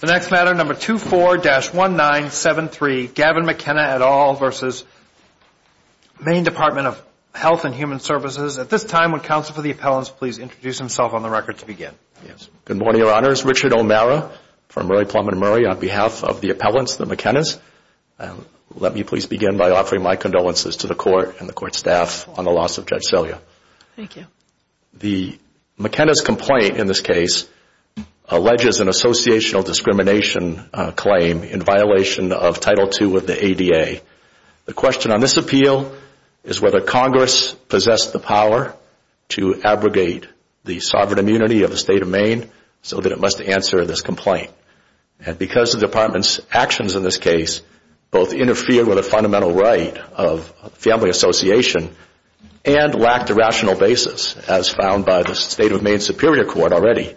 The next matter, number 24-1973, Gavin McKenna et al. v. Maine Department of Health and Human Services. At this time, would counsel for the appellants please introduce himself on the record to begin. Good morning, Your Honors. Richard O'Mara from Murray Plum and Murray on behalf of the appellants, the McKennas. Let me please begin by offering my condolences to the Court and the Court staff on the loss of Judge Celia. Thank you. The McKenna's complaint in this case alleges an associational discrimination claim in violation of Title II of the ADA. The question on this appeal is whether Congress possessed the power to abrogate the sovereign immunity of the State of Maine so that it must answer this complaint. And because the Department's actions in this case both interfered with a fundamental right of family association and lacked a rational basis, as found by the State of Maine Superior Court already,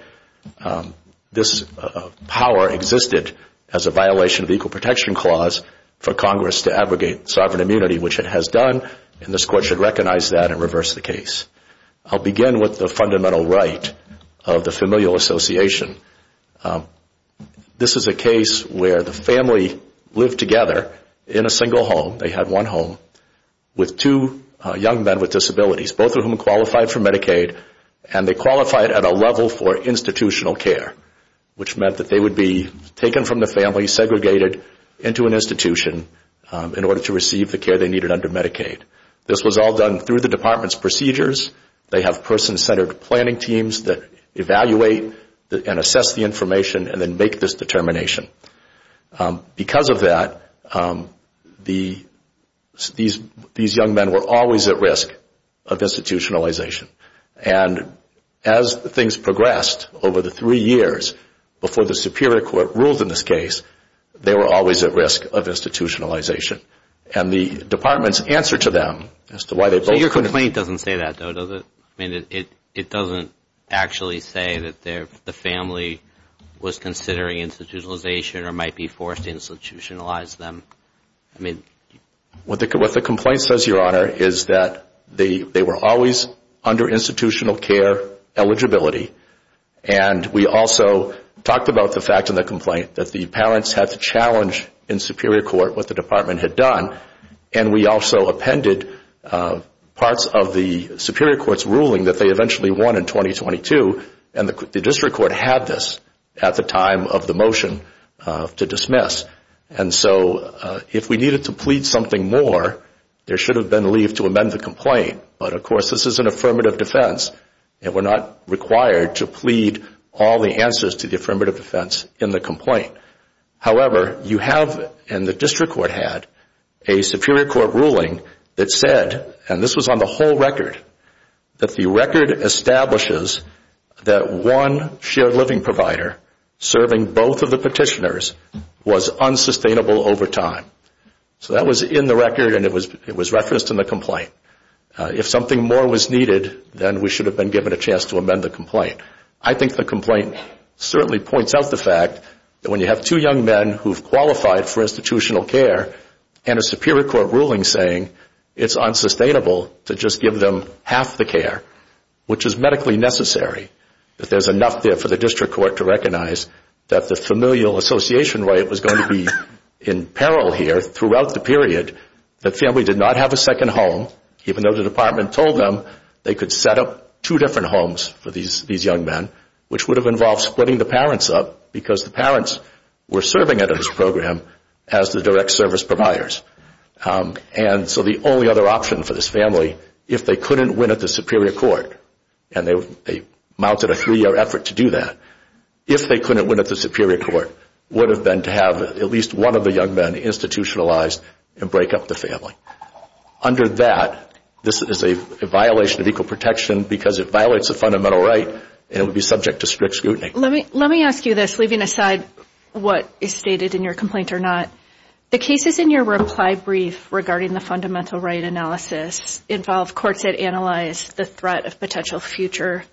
this power existed as a violation of the Equal Protection Clause for Congress to abrogate sovereign immunity, which it has done, and this Court should recognize that and reverse the case. I'll begin with the fundamental right of the familial association. This is a case where the family lived together in a single home. They had one home with two young men with disabilities, both of whom qualified for Medicaid, and they qualified at a level for institutional care, which meant that they would be taken from the family, segregated into an institution in order to receive the care they needed under Medicaid. This was all done through the Department's procedures. They have person-centered planning teams that evaluate and assess the information and then make this determination. Because of that, these young men were always at risk of institutionalization. And as things progressed over the three years before the Superior Court ruled in this case, they were always at risk of institutionalization. And the Department's answer to them as to why they both- So your complaint doesn't say that, though, does it? I mean, it doesn't actually say that the family was considering institutionalization or might be forced to institutionalize them. I mean- What the complaint says, Your Honor, is that they were always under institutional care eligibility, and we also talked about the fact in the complaint that the parents had to challenge in Superior Court what the Department had done. And we also appended parts of the Superior Court's ruling that they eventually won in 2022, and the District Court had this at the time of the motion to dismiss. And so if we needed to plead something more, there should have been leave to amend the complaint. But, of course, this is an affirmative defense, and we're not required to plead all the answers to the affirmative defense in the complaint. However, you have, and the District Court had, a Superior Court ruling that said, and this was on the whole record, that the record establishes that one shared living provider serving both of the petitioners was unsustainable over time. So that was in the record, and it was referenced in the complaint. If something more was needed, then we should have been given a chance to amend the complaint. I think the complaint certainly points out the fact that when you have two young men who've qualified for institutional care and a Superior Court ruling saying it's unsustainable to just give them half the care, which is medically necessary, that there's enough there for the District Court to recognize that the familial association right was going to be in peril here throughout the period. The family did not have a second home, even though the Department told them they could set up two different homes for these young men, which would have involved splitting the parents up because the parents were serving under this program as the direct service providers. And so the only other option for this family, if they couldn't win at the Superior Court, and they mounted a three-year effort to do that, if they couldn't win at the Superior Court, would have been to have at least one of the young men institutionalized and break up the family. Under that, this is a violation of equal protection because it violates a fundamental right and it would be subject to strict scrutiny. Let me ask you this, leaving aside what is stated in your complaint or not. The cases in your reply brief regarding the fundamental right analysis involve courts that analyze the threat of potential future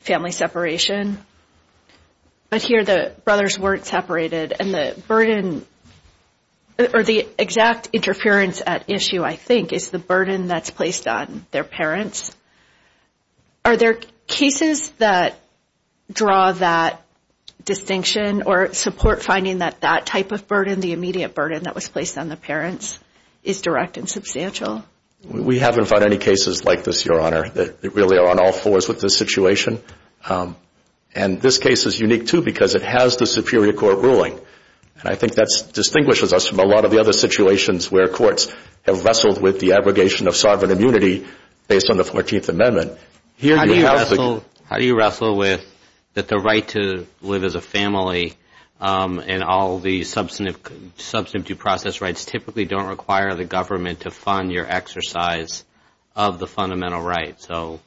family separation, but here the brothers weren't separated. And the exact interference at issue, I think, is the burden that's placed on their parents. Are there cases that draw that distinction or support finding that that type of burden, the immediate burden that was placed on the parents, is direct and substantial? We haven't found any cases like this, Your Honor, that really are on all fours with this situation. And this case is unique, too, because it has the Superior Court ruling, and I think that distinguishes us from a lot of the other situations where courts have wrestled with the abrogation of sovereign immunity based on the 14th Amendment. How do you wrestle with the right to live as a family and all the substantive process rights typically don't require the government to fund your exercise of the fundamental right? So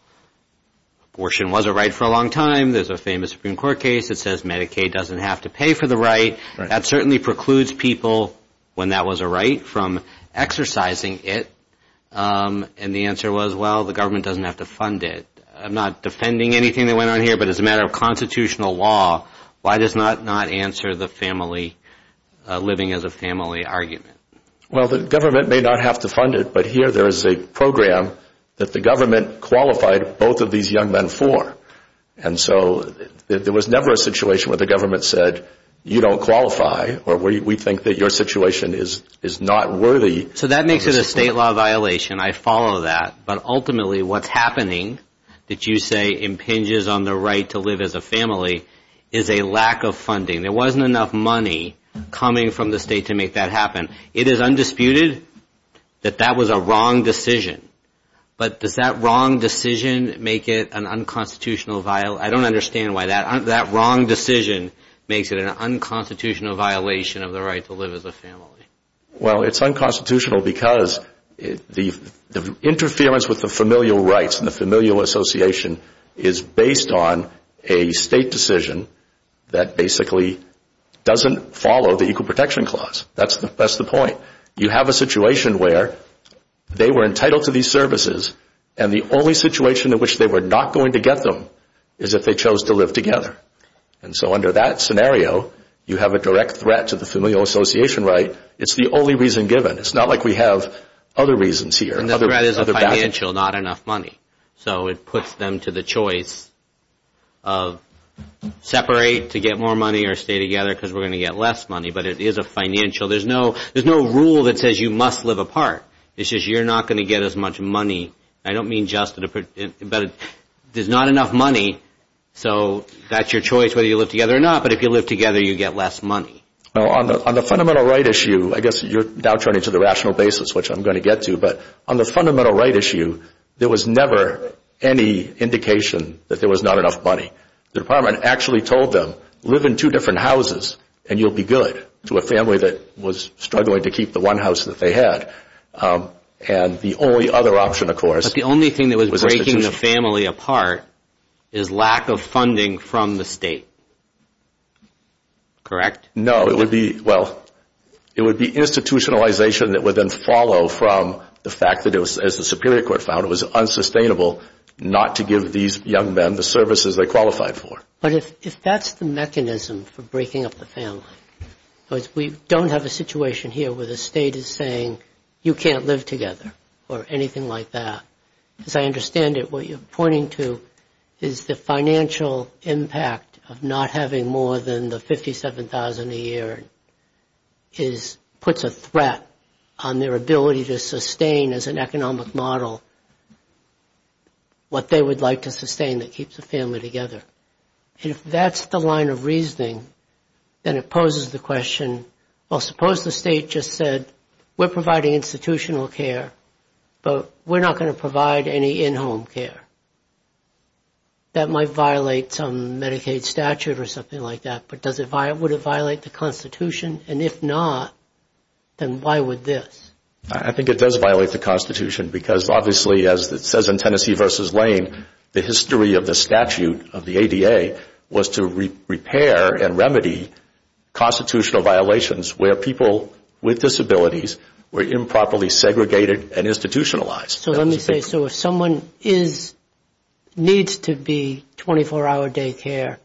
abortion was a right for a long time. There's a famous Supreme Court case that says Medicaid doesn't have to pay for the right. That certainly precludes people, when that was a right, from exercising it. And the answer was, well, the government doesn't have to fund it. I'm not defending anything that went on here, but as a matter of constitutional law, why does that not answer the family living as a family argument? Well, the government may not have to fund it, but here there is a program that the government qualified both of these young men for. And so there was never a situation where the government said, you don't qualify or we think that your situation is not worthy. So that makes it a state law violation. I follow that. But ultimately what's happening that you say impinges on the right to live as a family is a lack of funding. There wasn't enough money coming from the state to make that happen. It is undisputed that that was a wrong decision. But does that wrong decision make it an unconstitutional violation? I don't understand why that wrong decision makes it an unconstitutional violation of the right to live as a family. Well, it's unconstitutional because the interference with the familial rights and the familial association is based on a state decision that basically doesn't follow the Equal Protection Clause. That's the point. You have a situation where they were entitled to these services and the only situation in which they were not going to get them is if they chose to live together. And so under that scenario, you have a direct threat to the familial association right. It's the only reason given. It's not like we have other reasons here. And the threat is a financial, not enough money. So it puts them to the choice of separate to get more money or stay together because we're going to get less money. But it is a financial. There's no rule that says you must live apart. It's just you're not going to get as much money. I don't mean just, but there's not enough money. So that's your choice whether you live together or not. But if you live together, you get less money. On the fundamental right issue, I guess you're now turning to the rational basis, which I'm going to get to. But on the fundamental right issue, there was never any indication that there was not enough money. The department actually told them, live in two different houses and you'll be good, to a family that was struggling to keep the one house that they had. And the only other option, of course. But the only thing that was breaking the family apart is lack of funding from the state. Correct? No. Well, it would be institutionalization that would then follow from the fact that, as the Superior Court found, it was unsustainable not to give these young men the services they qualified for. But if that's the mechanism for breaking up the family, we don't have a situation here where the state is saying you can't live together or anything like that. As I understand it, what you're pointing to is the financial impact of not having more than the $57,000 a year puts a threat on their ability to sustain, as an economic model, what they would like to sustain that keeps the family together. If that's the line of reasoning, then it poses the question, well, suppose the state just said, we're providing institutional care, but we're not going to provide any in-home care. That might violate some Medicaid statute or something like that, but would it violate the Constitution? And if not, then why would this? I think it does violate the Constitution because, obviously, as it says in Tennessee v. Lane, the history of the statute of the ADA was to repair and remedy constitutional violations where people with disabilities were improperly segregated and institutionalized. So let me say, so if someone needs to be 24-hour day care,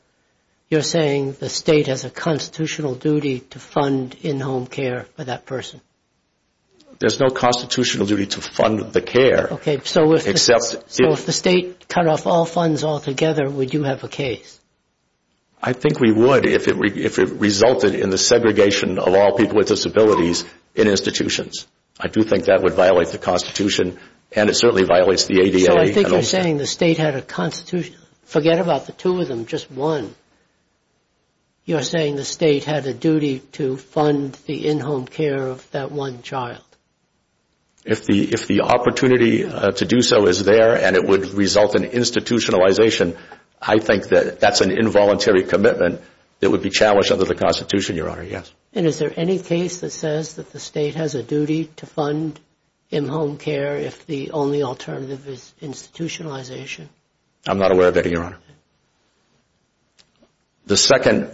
you're saying the state has a constitutional duty to fund in-home care for that person? There's no constitutional duty to fund the care. Okay, so if the state cut off all funds altogether, would you have a case? I think we would if it resulted in the segregation of all people with disabilities in institutions. I do think that would violate the Constitution, and it certainly violates the ADA. So I think you're saying the state had a constitution. Forget about the two of them, just one. You're saying the state had a duty to fund the in-home care of that one child. If the opportunity to do so is there and it would result in institutionalization, I think that that's an involuntary commitment that would be challenged under the Constitution, Your Honor, yes. And is there any case that says that the state has a duty to fund in-home care if the only alternative is institutionalization? I'm not aware of any, Your Honor. The second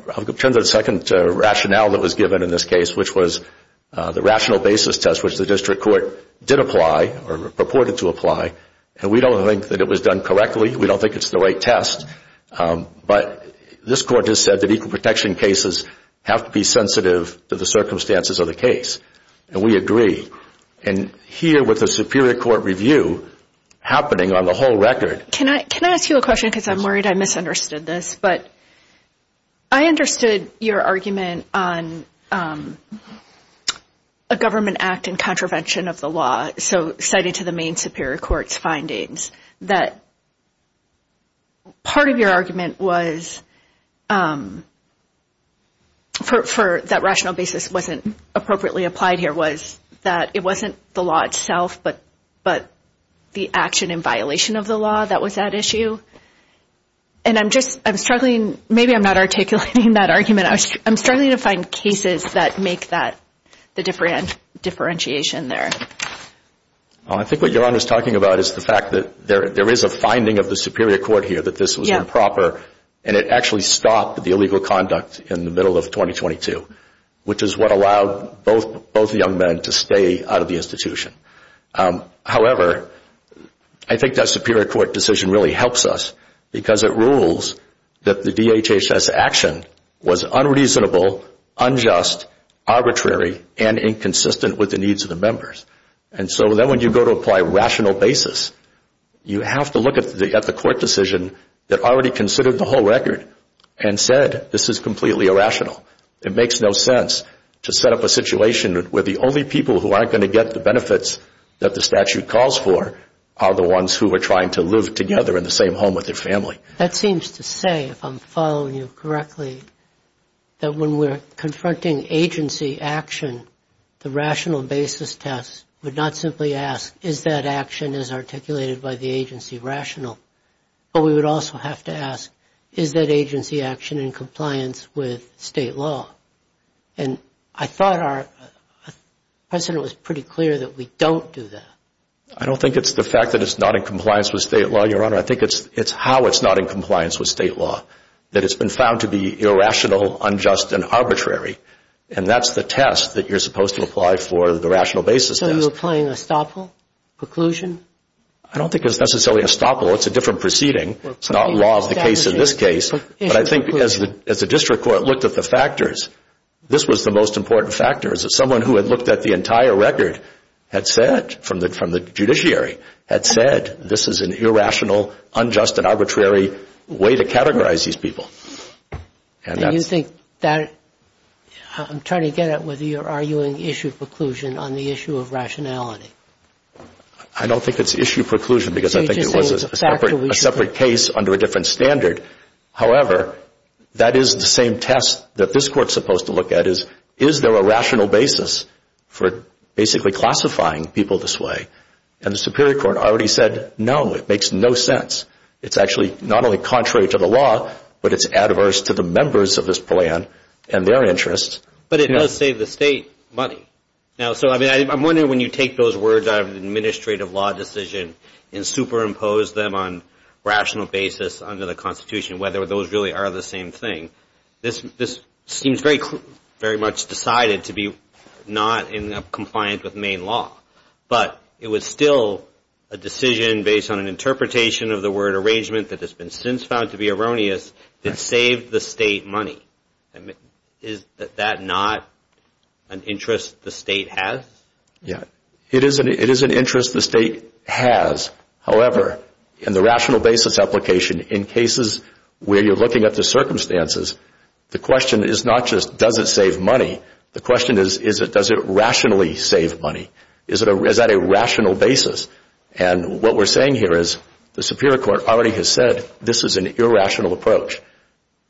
rationale that was given in this case, which was the rational basis test, which the district court did apply or purported to apply, and we don't think that it was done correctly, we don't think it's the right test, but this court has said that equal protection cases have to be sensitive to the circumstances of the case. And we agree. And here with the superior court review happening on the whole record... Can I ask you a question because I'm worried I misunderstood this? But I understood your argument on a government act in contravention of the law, so cited to the main superior court's findings, that part of your argument was, for that rational basis wasn't appropriately applied here, was that it wasn't the law itself but the action in violation of the law that was at issue. And I'm just, I'm struggling, maybe I'm not articulating that argument. I'm struggling to find cases that make that, the differentiation there. I think what Your Honor is talking about is the fact that there is a finding of the superior court here that this was improper and it actually stopped the illegal conduct in the middle of 2022, which is what allowed both young men to stay out of the institution. However, I think that superior court decision really helps us because it rules that the DHHS action was unreasonable, unjust, arbitrary, and inconsistent with the needs of the members. And so then when you go to apply rational basis, you have to look at the court decision that already considered the whole record and said this is completely irrational. It makes no sense to set up a situation where the only people who aren't going to get the benefits that the statute calls for are the ones who are trying to live together in the same home with their family. That seems to say, if I'm following you correctly, that when we're confronting agency action, the rational basis test would not simply ask, is that action as articulated by the agency rational? But we would also have to ask, is that agency action in compliance with state law? And I thought our president was pretty clear that we don't do that. I don't think it's the fact that it's not in compliance with state law, Your Honor. I think it's how it's not in compliance with state law, that it's been found to be irrational, unjust, and arbitrary. And that's the test that you're supposed to apply for the rational basis test. So you're applying estoppel, preclusion? I don't think it's necessarily estoppel. It's a different proceeding. It's not law of the case in this case. But I think as the district court looked at the factors, this was the most important factor, is that someone who had looked at the entire record had said, from the judiciary, had said this is an irrational, unjust, and arbitrary way to categorize these people. And you think that – I'm trying to get at whether you're arguing issue preclusion on the issue of rationality. I don't think it's issue preclusion because I think it was a separate case under a different standard. However, that is the same test that this court is supposed to look at is, is there a rational basis for basically classifying people this way? And the superior court already said, no, it makes no sense. It's actually not only contrary to the law, but it's adverse to the members of this plan and their interests. But it does save the state money. So I'm wondering when you take those words out of an administrative law decision and superimpose them on rational basis under the Constitution, whether those really are the same thing, this seems very much decided to be not in compliance with main law. But it was still a decision based on an interpretation of the word arrangement that has been since found to be erroneous that saved the state money. Is that not an interest the state has? Yeah. It is an interest the state has. However, in the rational basis application, in cases where you're looking at the circumstances, the question is not just does it save money? The question is, does it rationally save money? Is that a rational basis? And what we're saying here is the superior court already has said this is an irrational approach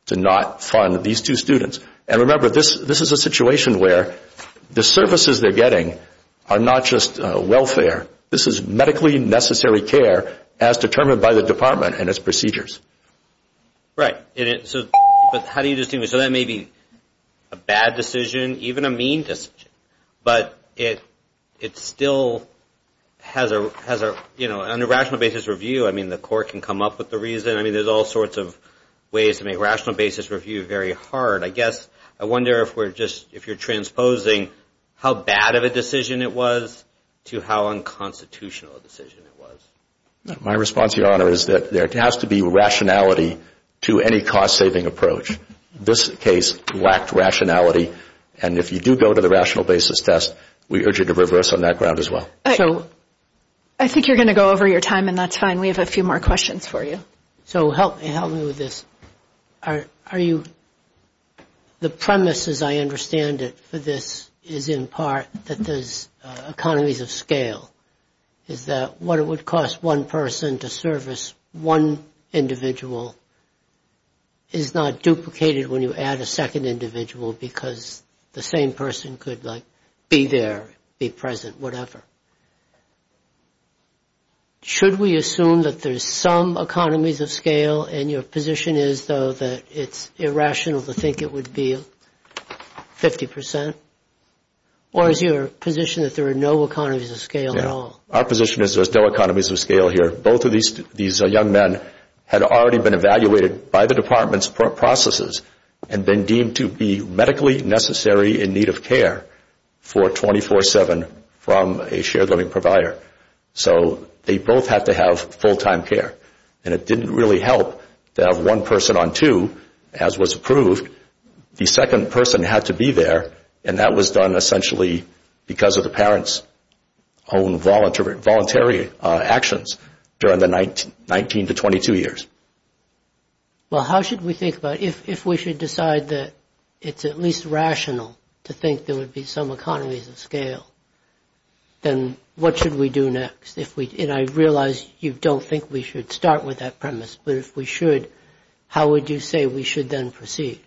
to not fund these two students. And remember, this is a situation where the services they're getting are not just welfare. This is medically necessary care as determined by the department and its procedures. Right. But how do you distinguish? So that may be a bad decision, even a mean decision. But it still has a rational basis review. I mean, the court can come up with the reason. I mean, there's all sorts of ways to make rational basis review very hard. I guess I wonder if you're transposing how bad of a decision it was to how unconstitutional a decision it was. My response, Your Honor, is that there has to be rationality to any cost-saving approach. This case lacked rationality. And if you do go to the rational basis test, we urge you to reverse on that ground as well. I think you're going to go over your time, and that's fine. And we have a few more questions for you. So help me with this. The premise, as I understand it, for this is in part that there's economies of scale, is that what it would cost one person to service one individual is not duplicated when you add a second individual because the same person could, like, be there, be present, whatever. Should we assume that there's some economies of scale, and your position is, though, that it's irrational to think it would be 50 percent? Or is your position that there are no economies of scale at all? Our position is there's no economies of scale here. Both of these young men had already been evaluated by the Department's processes and been deemed to be medically necessary in need of care for 24-7 from a shared living provider. So they both had to have full-time care. And it didn't really help to have one person on two, as was approved. The second person had to be there, and that was done essentially because of the parents' own voluntary actions during the 19 to 22 years. Well, how should we think about it? If we should decide that it's at least rational to think there would be some economies of scale, then what should we do next? And I realize you don't think we should start with that premise, but if we should, how would you say we should then proceed?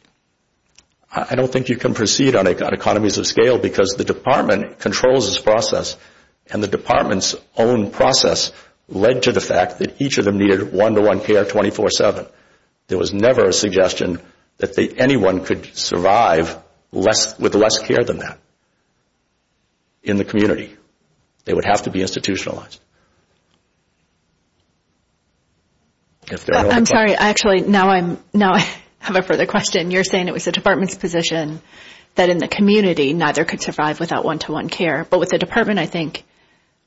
I don't think you can proceed on economies of scale because the Department controls this process, and the Department's own process led to the fact that each of them needed one-to-one care 24-7. There was never a suggestion that anyone could survive with less care than that in the community. They would have to be institutionalized. I'm sorry. Actually, now I have a further question. You're saying it was the Department's position that in the community, neither could survive without one-to-one care. But what the Department, I think,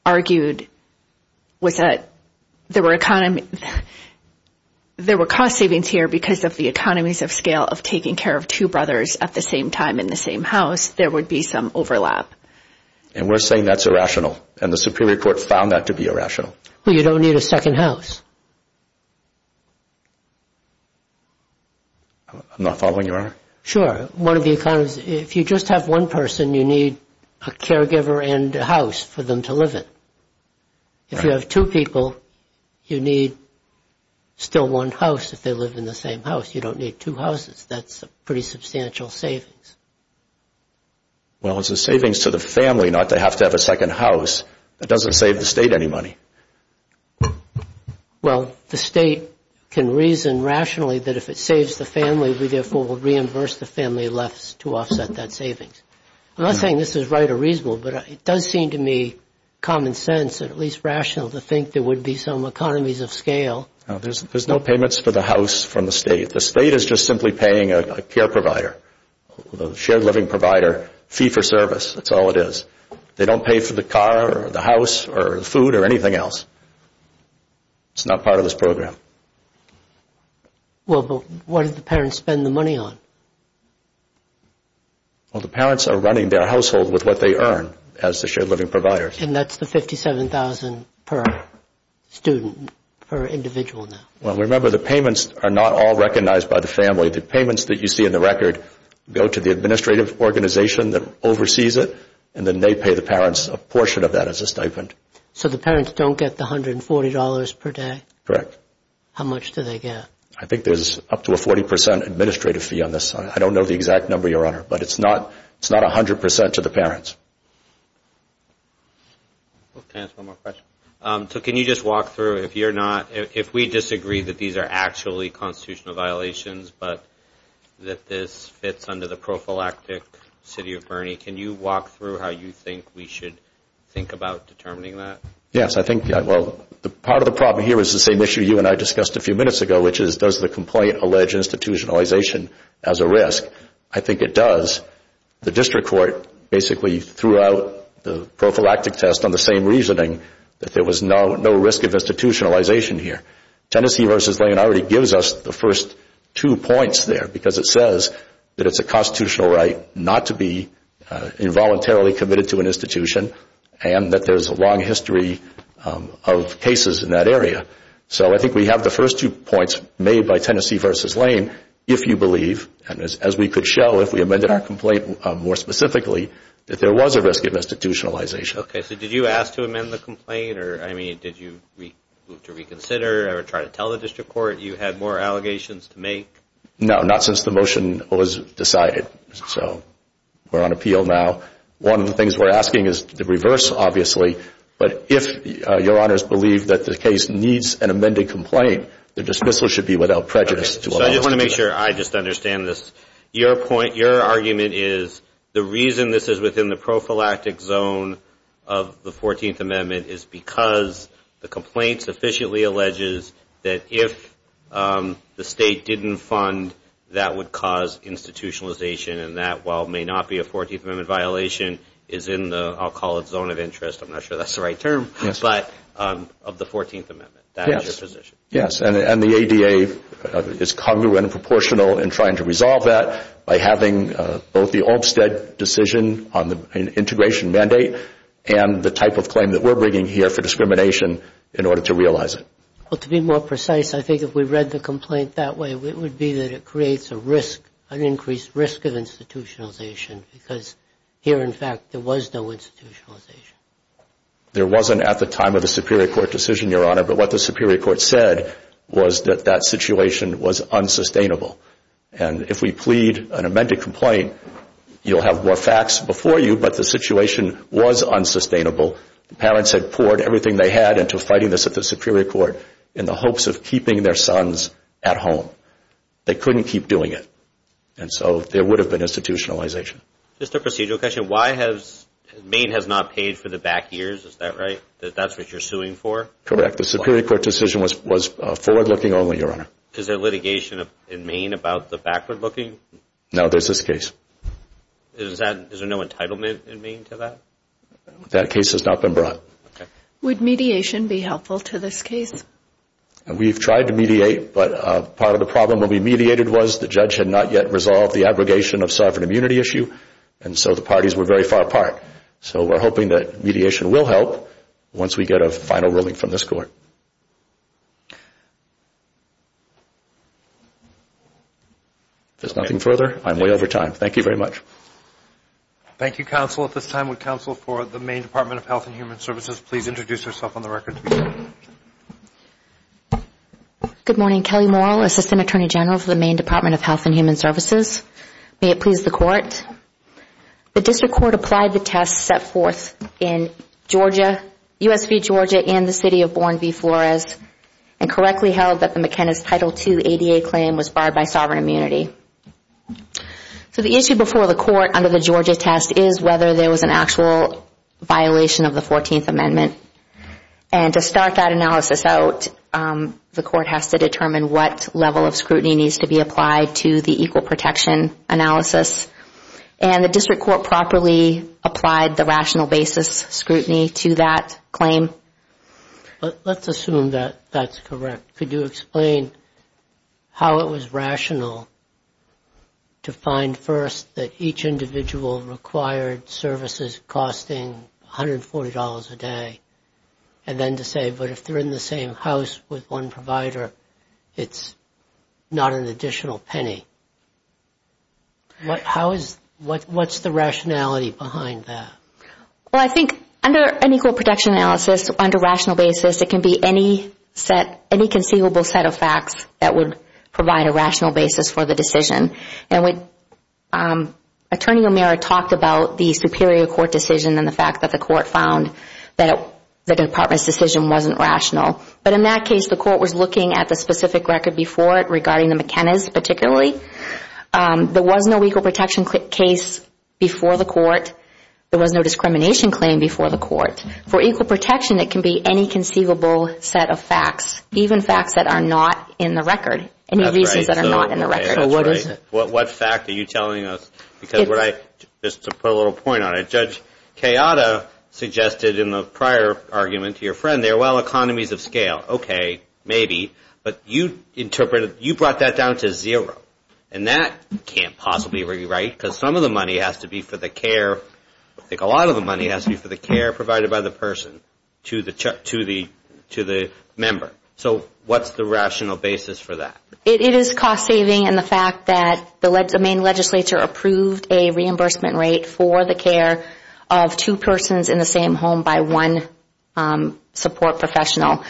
argued was that there were cost savings here because of the economies of scale of taking care of two brothers at the same time in the same house, there would be some overlap. And we're saying that's irrational, and the Superior Court found that to be irrational. Well, you don't need a second house. I'm not following you, Your Honor. Sure. One of the economies, if you just have one person, you need a caregiver and a house for them to live in. If you have two people, you need still one house if they live in the same house. You don't need two houses. That's a pretty substantial savings. Well, it's a savings to the family not to have to have a second house. That doesn't save the State any money. Well, the State can reason rationally that if it saves the family, we therefore will reimburse the family left to offset that savings. I'm not saying this is right or reasonable, but it does seem to me common sense and at least rational to think there would be some economies of scale. There's no payments for the house from the State. The State is just simply paying a care provider, a shared living provider, fee for service. That's all it is. They don't pay for the car or the house or food or anything else. It's not part of this program. Well, but what do the parents spend the money on? Well, the parents are running their household with what they earn as the shared living providers. And that's the $57,000 per student, per individual now. Well, remember, the payments are not all recognized by the family. The payments that you see in the record go to the administrative organization that oversees it and then they pay the parents a portion of that as a stipend. So the parents don't get the $140 per day? Correct. How much do they get? I think there's up to a 40% administrative fee on this. I don't know the exact number, Your Honor, but it's not 100% to the parents. Can I ask one more question? So can you just walk through, if you're not, if we disagree that these are actually constitutional violations, but that this fits under the prophylactic city of Bernie, can you walk through how you think we should think about determining that? Yes. I think, well, part of the problem here is the same issue you and I discussed a few minutes ago, which is does the complaint allege institutionalization as a risk? I think it does. The district court basically threw out the prophylactic test on the same reasoning, that there was no risk of institutionalization here. Tennessee v. Lane already gives us the first two points there, because it says that it's a constitutional right not to be involuntarily committed to an institution and that there's a long history of cases in that area. So I think we have the first two points made by Tennessee v. Lane, if you believe, as we could show if we amended our complaint more specifically, that there was a risk of institutionalization. Okay. So did you ask to amend the complaint? Or, I mean, did you move to reconsider or try to tell the district court you had more allegations to make? No, not since the motion was decided. So we're on appeal now. One of the things we're asking is the reverse, obviously. But if Your Honors believe that the case needs an amended complaint, the dismissal should be without prejudice. So I just want to make sure I just understand this. Your point, your argument is the reason this is within the prophylactic zone of the 14th Amendment is because the complaint sufficiently alleges that if the state didn't fund, that would cause institutionalization and that, while it may not be a 14th Amendment violation, is in the, I'll call it, zone of interest. I'm not sure that's the right term. But of the 14th Amendment. Yes. That is your position. Yes. And the ADA is congruent and proportional in trying to resolve that by having both the Olmstead decision on the integration mandate and the type of claim that we're bringing here for discrimination in order to realize it. Well, to be more precise, I think if we read the complaint that way, it would be that it creates a risk, an increased risk of institutionalization because here, in fact, there was no institutionalization. There wasn't at the time of the Superior Court decision, Your Honor, but what the Superior Court said was that that situation was unsustainable. And if we plead an amended complaint, you'll have more facts before you, but the situation was unsustainable. The parents had poured everything they had into fighting this at the Superior Court in the hopes of keeping their sons at home. They couldn't keep doing it, and so there would have been institutionalization. Just a procedural question. Why has Maine has not paid for the back years? Is that right? That that's what you're suing for? Correct. The Superior Court decision was forward-looking only, Your Honor. Is there litigation in Maine about the backward-looking? No. There's this case. Is there no entitlement in Maine to that? That case has not been brought. Would mediation be helpful to this case? We've tried to mediate, but part of the problem when we mediated was the judge had not yet resolved the abrogation of sovereign immunity issue, and so the parties were very far apart. So we're hoping that mediation will help once we get a final ruling from this court. If there's nothing further, I'm way over time. Thank you very much. Thank you, counsel. At this time, would counsel for the Maine Department of Health and Human Services please introduce herself on the record? Good morning. Kelly Morrill, Assistant Attorney General for the Maine Department of Health and Human Services. May it please the Court. The District Court applied the tests set forth in Georgia, U.S. v. Georgia and the City of Bourneville, and correctly held that the McKenna's Title II ADA claim was barred by sovereign immunity. So the issue before the Court under the Georgia test is whether there was an actual violation of the 14th Amendment. And to start that analysis out, the Court has to determine what level of scrutiny needs to be applied to the equal protection analysis. And the District Court properly applied the rational basis scrutiny to that claim. Let's assume that that's correct. Could you explain how it was rational to find, first, that each individual required services costing $140 a day, and then to say, but if they're in the same house with one provider, it's not an additional penny? What's the rationality behind that? Well, I think under an equal protection analysis, under rational basis, it can be any conceivable set of facts that would provide a rational basis for the decision. And Attorney O'Meara talked about the Superior Court decision and the fact that the Court found that the Department's decision wasn't rational. But in that case, the Court was looking at the specific record before it regarding the McKenna's particularly. There was no equal protection case before the Court. There was no discrimination claim before the Court. For equal protection, it can be any conceivable set of facts, even facts that are not in the record, any reasons that are not in the record. So what is it? What fact are you telling us? Because what I, just to put a little point on it, Judge Kayada suggested in the prior argument to your friend there, well, economies of scale, okay, maybe. But you interpreted, you brought that down to zero. And that can't possibly be right, because some of the money has to be for the care, I think a lot of the money has to be for the care provided by the person to the member. So what's the rational basis for that? It is cost-saving in the fact that the Maine legislature approved a reimbursement rate for the care of two persons in the same home by one support professional.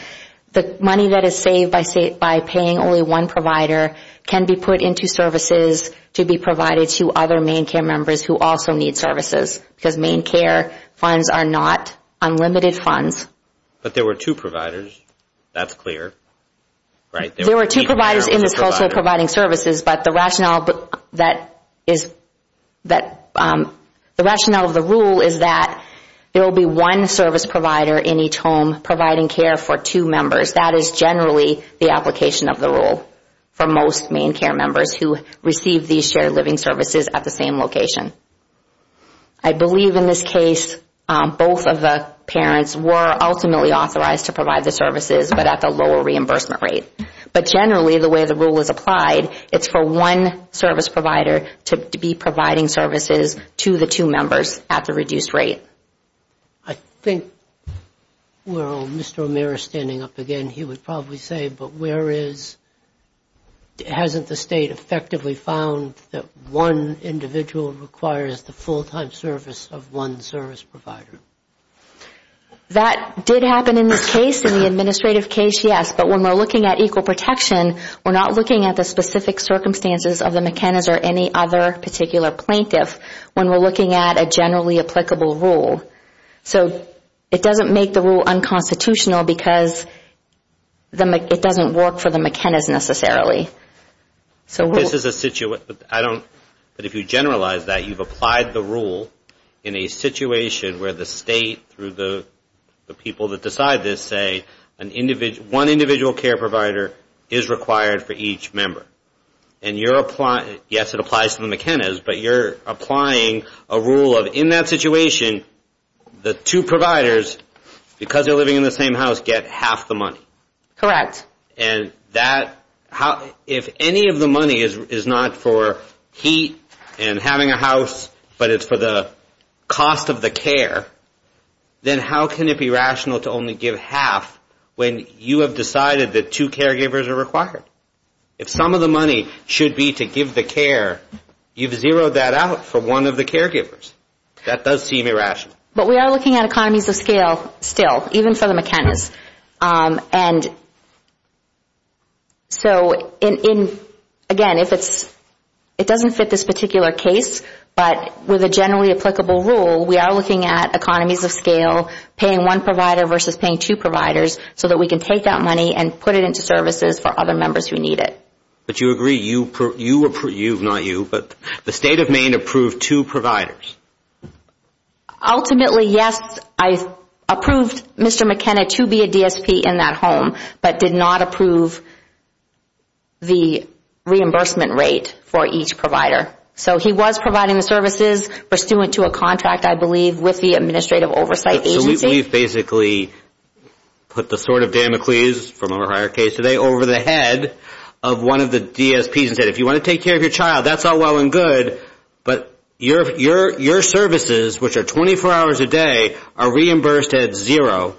The money that is saved by paying only one provider can be put into services to be provided to other Maine CARE members who also need services. Because Maine CARE funds are not unlimited funds. But there were two providers. That's clear. There were two providers in this culture providing services, but the rationale of the rule is that there will be one service provider in each home providing care for two members. That is generally the application of the rule for most Maine CARE members who receive these shared living services at the same location. I believe in this case both of the parents were ultimately authorized to provide the services, but at the lower reimbursement rate. But generally the way the rule is applied, it's for one service provider to be providing services to the two members at the reduced rate. I think while Mr. O'Meara is standing up again, he would probably say, but hasn't the State effectively found that one individual requires the full-time service of one service provider? That did happen in this case, in the administrative case, yes. But when we're looking at equal protection, we're not looking at the specific circumstances of the McKenna's or any other particular plaintiff. When we're looking at a generally applicable rule. So it doesn't make the rule unconstitutional because it doesn't work for the McKenna's necessarily. But if you generalize that, you've applied the rule in a situation where the State, through the people that decide this, say one individual care provider is required for each member. And you're applying, yes, it applies to the McKenna's, but you're applying a rule of, in that situation, the two providers, because they're living in the same house, get half the money. Correct. If any of the money is not for heat and having a house, but it's for the cost of the care, then how can it be rational to only the money should be to give the care? You've zeroed that out for one of the caregivers. That does seem irrational. But we are looking at economies of scale still, even for the McKenna's. And so, again, it doesn't fit this particular case, but with a generally applicable rule, we are looking at economies of scale, paying one provider versus paying two providers, so that we can take that money and put it into services for other members who need it. But you agree, you approved, not you, but the State of Maine approved two providers. Ultimately, yes, I approved Mr. McKenna to be a DSP in that home, but did not approve the reimbursement rate for each provider. So he was providing the services pursuant to a contract, I believe, with the Administrative Oversight Agency. So we've basically put the sword of Dan McLeese, from a prior case today, over the head of one of the DSPs and said, if you want to take care of your child, that's all well and good, but your services, which are 24 hours a day, are reimbursed at zero.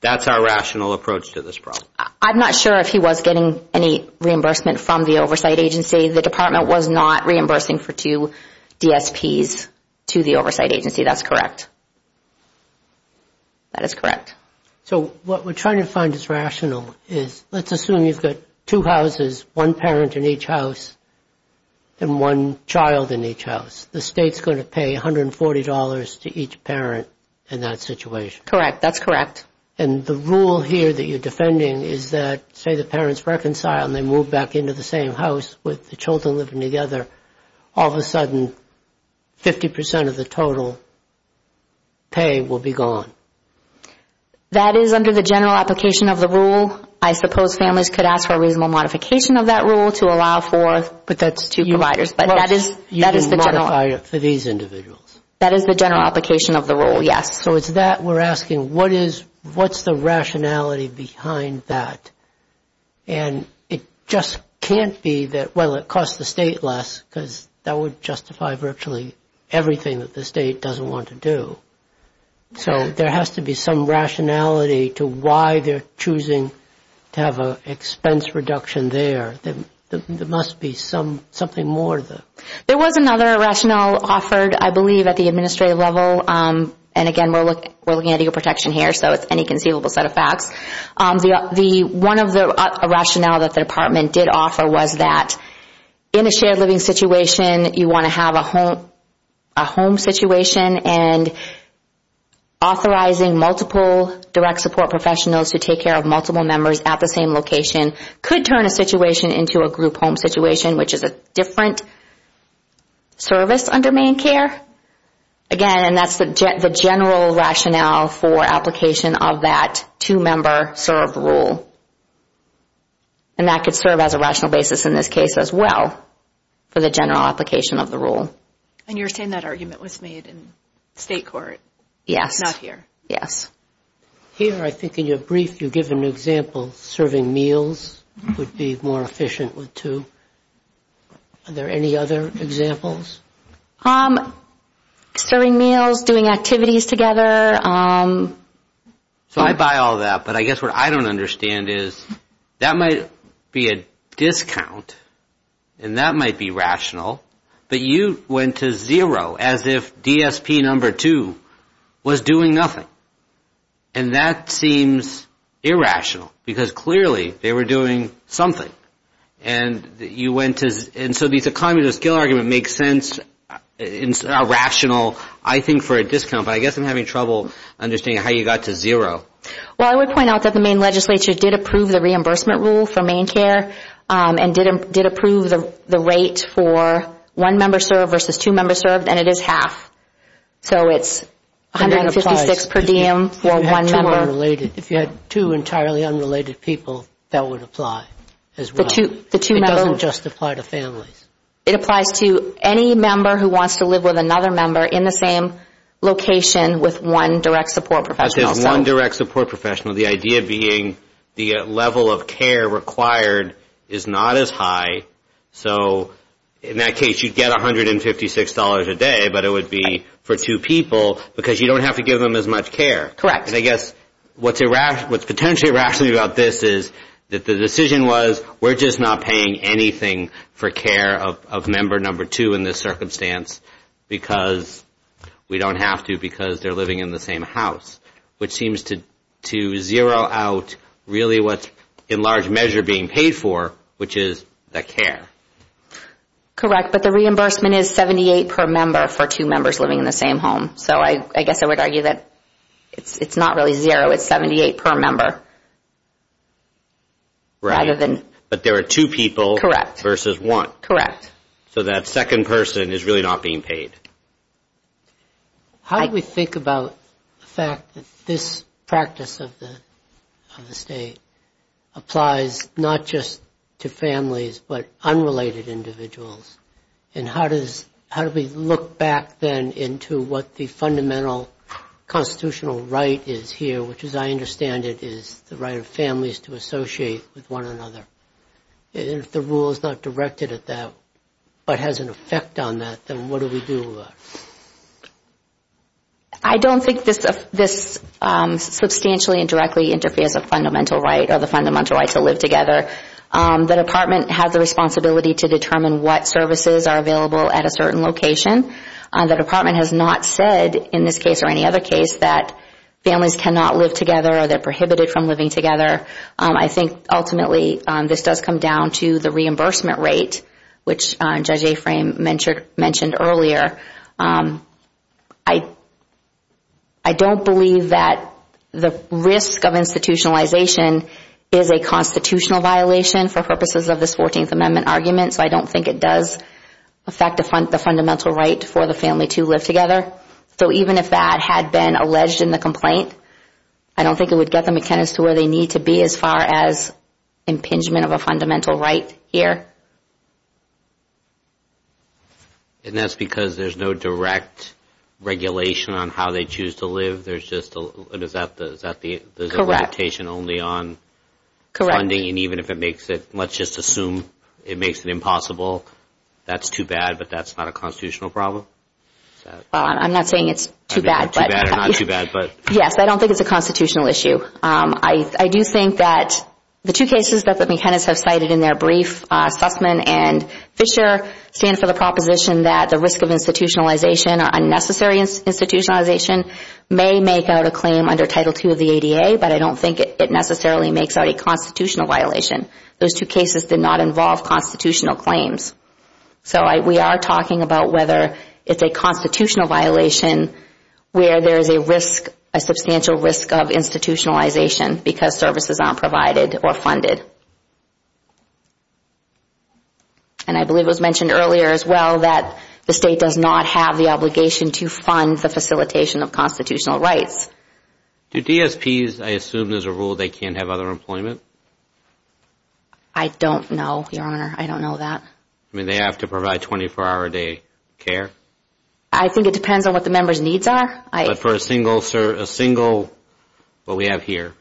That's our rational approach to this problem. I'm not sure if he was getting any reimbursement from the Oversight Agency. The Department was not reimbursing for two DSPs to the Oversight Agency. That's correct. That is correct. So what we're trying to find is rational. Let's assume you've got two houses, one parent in each house, and one child in each house. The State's going to pay $140 to each parent in that situation. Correct. That's correct. And the rule here that you're defending is that, say the parents reconcile and they move back into the same house with the children living together, all of a sudden 50% of the total pay will be gone. That is under the general application of the rule. I suppose families could ask for a reasonable modification of that rule to allow for But that's two providers. You can modify it for these individuals. That is the general application of the rule, yes. So it's that we're asking, what's the rationality behind that? And it just can't be that, well, it costs the State less because that would justify virtually everything that the State doesn't want to do. So there has to be some rationality to why they're choosing to have an expense reduction there. There must be something more to that. There was another rationale offered, I believe, at the administrative level. And again, we're looking at legal protection here, so it's any conceivable set of facts. One of the rationales that the department did offer was that in a shared living situation, you want to have a home situation and authorizing multiple direct support professionals to take care of multiple members at the same location could turn a situation into a group home situation, which is a different service under main care. Again, and that's the general rationale for application of that two-member serve rule. And that could serve as a rational basis in this case as well for the general application of the rule. And you're saying that argument was made in State court? Yes. Not here? Yes. Here, I think in your brief, you give an example. Serving meals would be more efficient with two. Are there any other examples? Serving meals, doing activities together. So I buy all that, but I guess what I don't understand is that might be a discount and that might be rational, but you went to zero as if DSP number two was doing nothing. And that seems irrational because clearly they were doing something. And you went to zero. And so the economy of skill argument makes sense. It's rational, I think, for a discount. But I guess I'm having trouble understanding how you got to zero. Well, I would point out that the Maine legislature did approve the reimbursement rule for main care and did approve the rate for one-member serve versus two-member serve, and it is half. So it's 156 per diem for one member. If you had two entirely unrelated people, that would apply as well. It doesn't just apply to families. It applies to any member who wants to live with another member in the same location with one direct support professional. One direct support professional, the idea being the level of care required is not as high. So in that case, you'd get $156 a day, but it would be for two people because you don't have to give them as much care. Correct. I guess what's potentially irrational about this is that the decision was we're just not paying anything for care of member number two in this circumstance because we don't have to because they're living in the same house, which seems to zero out really what's in large measure being paid for, which is the care. Correct. But the reimbursement is 78 per member for two members living in the same home. So I guess I would argue that it's not really zero. It's 78 per member. Right. But there are two people versus one. Correct. So that second person is really not being paid. How do we think about the fact that this practice of the state applies not just to families but unrelated individuals? And how do we look back then into what the fundamental constitutional right is here, which as I understand it is the right of families to associate with one another? If the rule is not directed at that but has an effect on that, then what do we do about it? I don't think this substantially and directly interferes with fundamental right or the fundamental right to live together. The department has the responsibility to determine what services are available at a certain location. The department has not said in this case or any other case that families cannot live together or they're prohibited from living together. I think ultimately this does come down to the reimbursement rate, which Judge Aframe mentioned earlier. I don't believe that the risk of institutionalization is a constitutional violation for purposes of this Fourteenth Amendment argument, so I don't think it does affect the fundamental right for the family to live together. So even if that had been alleged in the complaint, I don't think it would get the McKenna's to where they need to be as far as impingement of a fundamental right here. And that's because there's no direct regulation on how they choose to live? There's just a limitation only on funding? And even if it makes it, let's just assume it makes it impossible. That's too bad, but that's not a constitutional problem? I'm not saying it's too bad. Too bad or not too bad. Yes, I don't think it's a constitutional issue. I do think that the two cases that the McKenna's have cited in their brief, Sussman and Fisher, stand for the proposition that the risk of institutionalization or unnecessary institutionalization may make out a claim under Title II of the ADA, but I don't think it necessarily makes out a constitutional violation. Those two cases did not involve constitutional claims. So we are talking about whether it's a constitutional violation where there is a substantial risk of institutionalization because services aren't provided or funded. And I believe it was mentioned earlier as well that the State does not have the obligation to fund the facilitation of constitutional rights. Do DSPs, I assume there's a rule they can't have other employment? I don't know, Your Honor. I don't know that. I mean, they have to provide 24-hour-a-day care? I think it depends on what the member's needs are. But for a single, what we have here,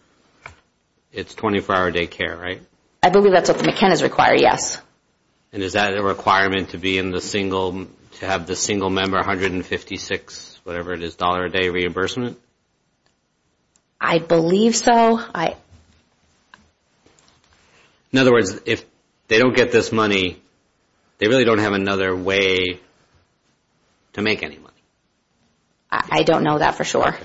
it's 24-hour-a-day care, right? I believe that's what the McKenna's require, yes. And is that a requirement to have the single member 156, whatever it is, dollar-a-day reimbursement? I believe so. In other words, if they don't get this money, they really don't have another way to make any money. I don't know that for sure.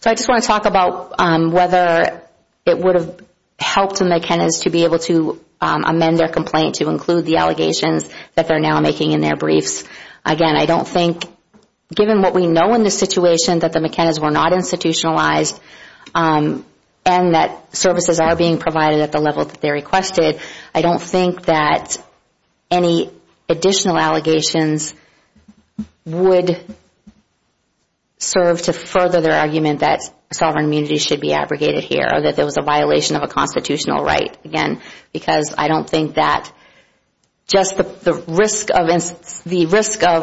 So I just want to talk about whether it would have helped McKenna's to be able to amend their complaint to include the allegations that they're now making in their briefs. Again, I don't think, given what we know in this situation, that the McKenna's were not institutionalized and that services are being provided at the level that they requested, I don't think that any additional allegations would serve to further their argument that sovereign immunity should be abrogated here or that there was a violation of a constitutional right, again, because I don't think that just the risk of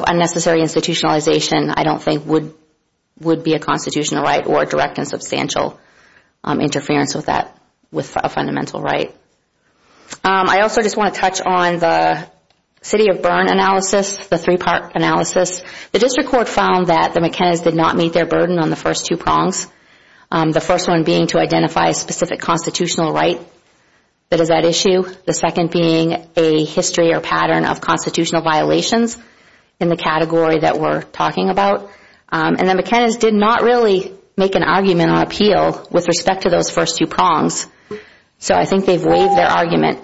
unnecessary institutionalization I don't think would be a constitutional right or direct and substantial interference with a fundamental right. I also just want to touch on the city of Bern analysis, the three-part analysis. The district court found that the McKenna's did not meet their burden on the first two prongs, the first one being to identify a specific constitutional right that is at issue, the second being a history or pattern of constitutional violations in the category that we're talking about, and the McKenna's did not really make an argument on appeal with respect to those first two prongs. So I think they've waived their argument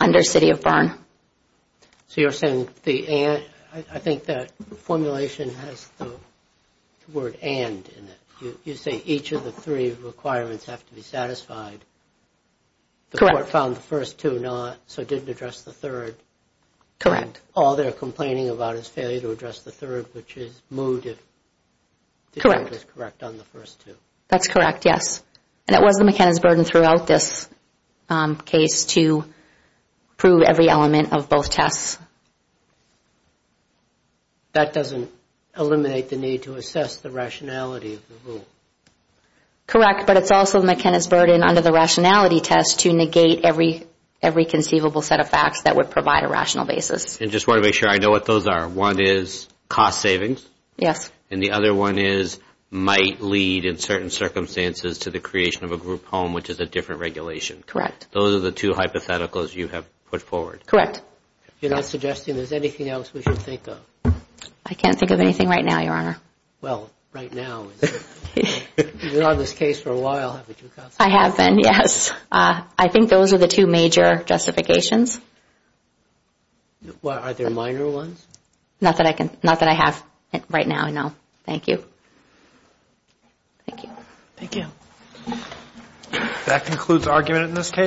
under city of Bern. So you're saying the and? I think that formulation has the word and in it. You say each of the three requirements have to be satisfied. Correct. The court found the first two not, so didn't address the third. Correct. All they're complaining about is failure to address the third, which is moved if the judge is correct on the first two. That's correct, yes. And it was the McKenna's burden throughout this case to prove every element of both tests. That doesn't eliminate the need to assess the rationality of the rule. Correct, but it's also McKenna's burden under the rationality test to negate every conceivable set of facts that would provide a rational basis. I just want to make sure I know what those are. One is cost savings. Yes. And the other one is might lead in certain circumstances to the creation of a group home, which is a different regulation. Correct. Those are the two hypotheticals you have put forward. Correct. You're not suggesting there's anything else we should think of? I can't think of anything right now, Your Honor. Well, right now. You've been on this case for a while. I have been, yes. I think those are the two major justifications. Are there minor ones? Not that I have right now, no. Thank you. Thank you. Thank you. That concludes argument in this case.